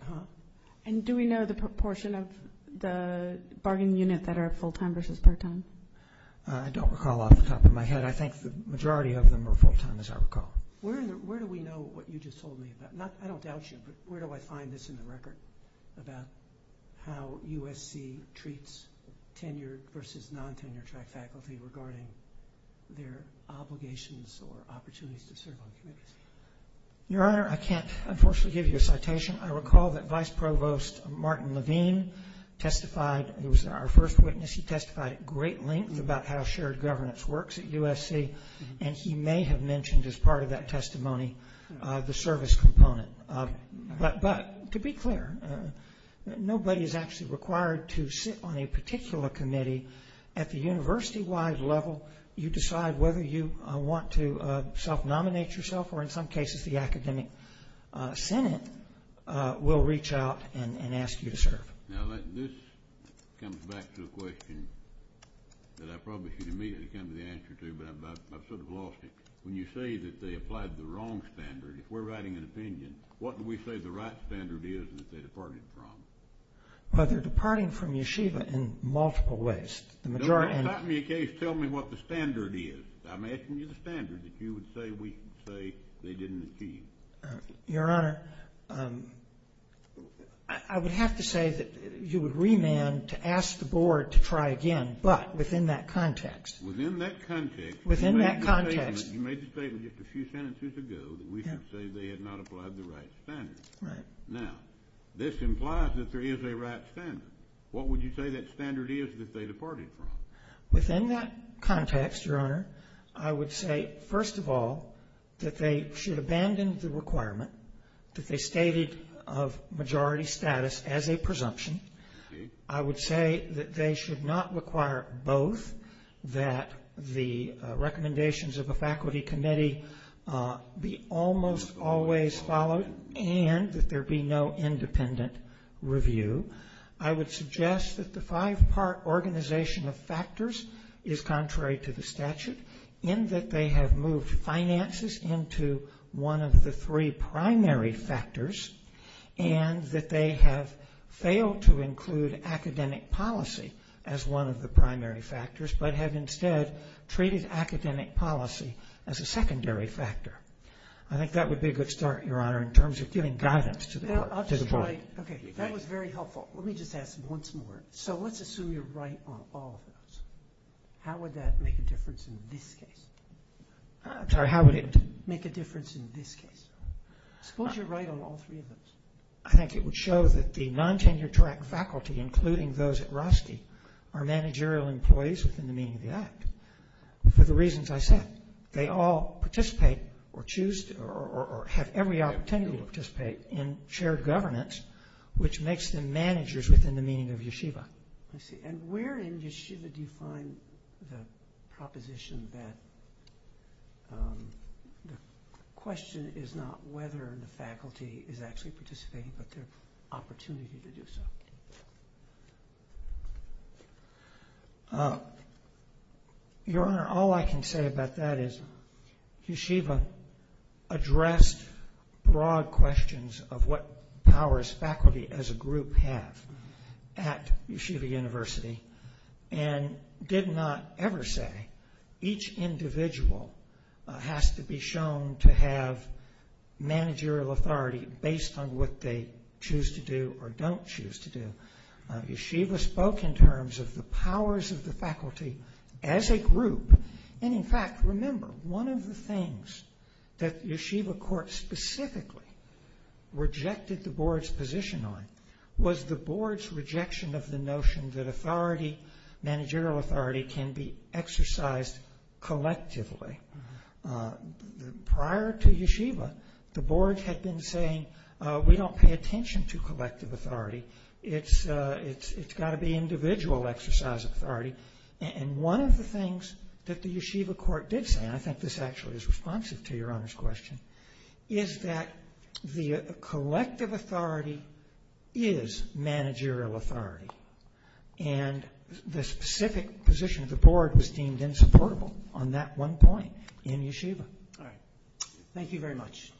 And do we know the proportion of the bargaining unit that are full-time versus part-time? I don't recall off the top of my head. I think the majority of them are full-time, as I recall. Where do we know what you just told me about? I don't doubt you, but where do I find this in the record about how USC treats tenured versus non-tenure-track faculty regarding their obligations or opportunities to serve on committees? Your Honor, I can't, unfortunately, give you a citation. I recall that Vice Provost Martin Levine testified. He was our first witness. He testified at great length about how shared governance works at USC, and he may have mentioned as part of that testimony the service component. But to be clear, nobody is actually required to sit on a particular committee. At the university-wide level, you decide whether you want to self-nominate yourself or, in some cases, the academic senate will reach out and ask you to serve. Now, this comes back to a question that I probably should immediately come to the answer to, but I've sort of lost it. When you say that they applied the wrong standard, if we're writing an opinion, what do we say the right standard is that they departed from? Well, they're departing from yeshiva in multiple ways. The majority— If you're going to type me a case, tell me what the standard is. I'm asking you the standard that you would say we can say they didn't achieve. Your Honor, I would have to say that you would remand to ask the board to try again, but within that context. Within that context. Within that context. You made the statement just a few sentences ago that we should say they had not applied the right standard. Right. Now, this implies that there is a right standard. What would you say that standard is that they departed from? Within that context, Your Honor, I would say, first of all, that they should abandon the requirement that they stated of majority status as a presumption. I would say that they should not require both that the recommendations of a faculty committee be almost always followed and that there be no independent review. I would suggest that the five-part organization of factors is contrary to the statute in that they have moved finances into one of the three primary factors and that they have failed to include academic policy as one of the primary factors but have instead treated academic policy as a secondary factor. I think that would be a good start, Your Honor, in terms of giving guidance to the board. Okay. That was very helpful. Let me just ask once more. So, let's assume you're right on all of those. How would that make a difference in this case? I'm sorry. How would it make a difference in this case? Suppose you're right on all three of those. I think it would show that the non-tenure-track faculty, including those at Rusty, are managerial employees within the meaning of the act for the reasons I said. They all participate or choose or have every opportunity to participate in shared governance, which makes them managers within the meaning of yeshiva. I see. And where in yeshiva do you find the proposition that the question is not whether the faculty is actually participating but their opportunity to do so? Your Honor, all I can say about that is yeshiva addressed broad questions of what powers faculty as a group have at yeshiva university and did not ever say each individual has to be shown to have managerial authority based on what they choose to do or don't choose to do. Yeshiva spoke in terms of the powers of the faculty as a group. And in fact, remember, one of the things that yeshiva court specifically rejected the board's position on was the board's rejection of the notion that authority, managerial authority, can be exercised collectively. Prior to yeshiva, the board had been saying we don't pay attention to collective authority. It's got to be individual exercise of authority. And one of the things that the yeshiva court did say, and I think this actually is responsive to Your Honor's question, is that the collective authority is managerial authority. And the specific position of the board was deemed insupportable on that one point in yeshiva. All right. Thank you very much.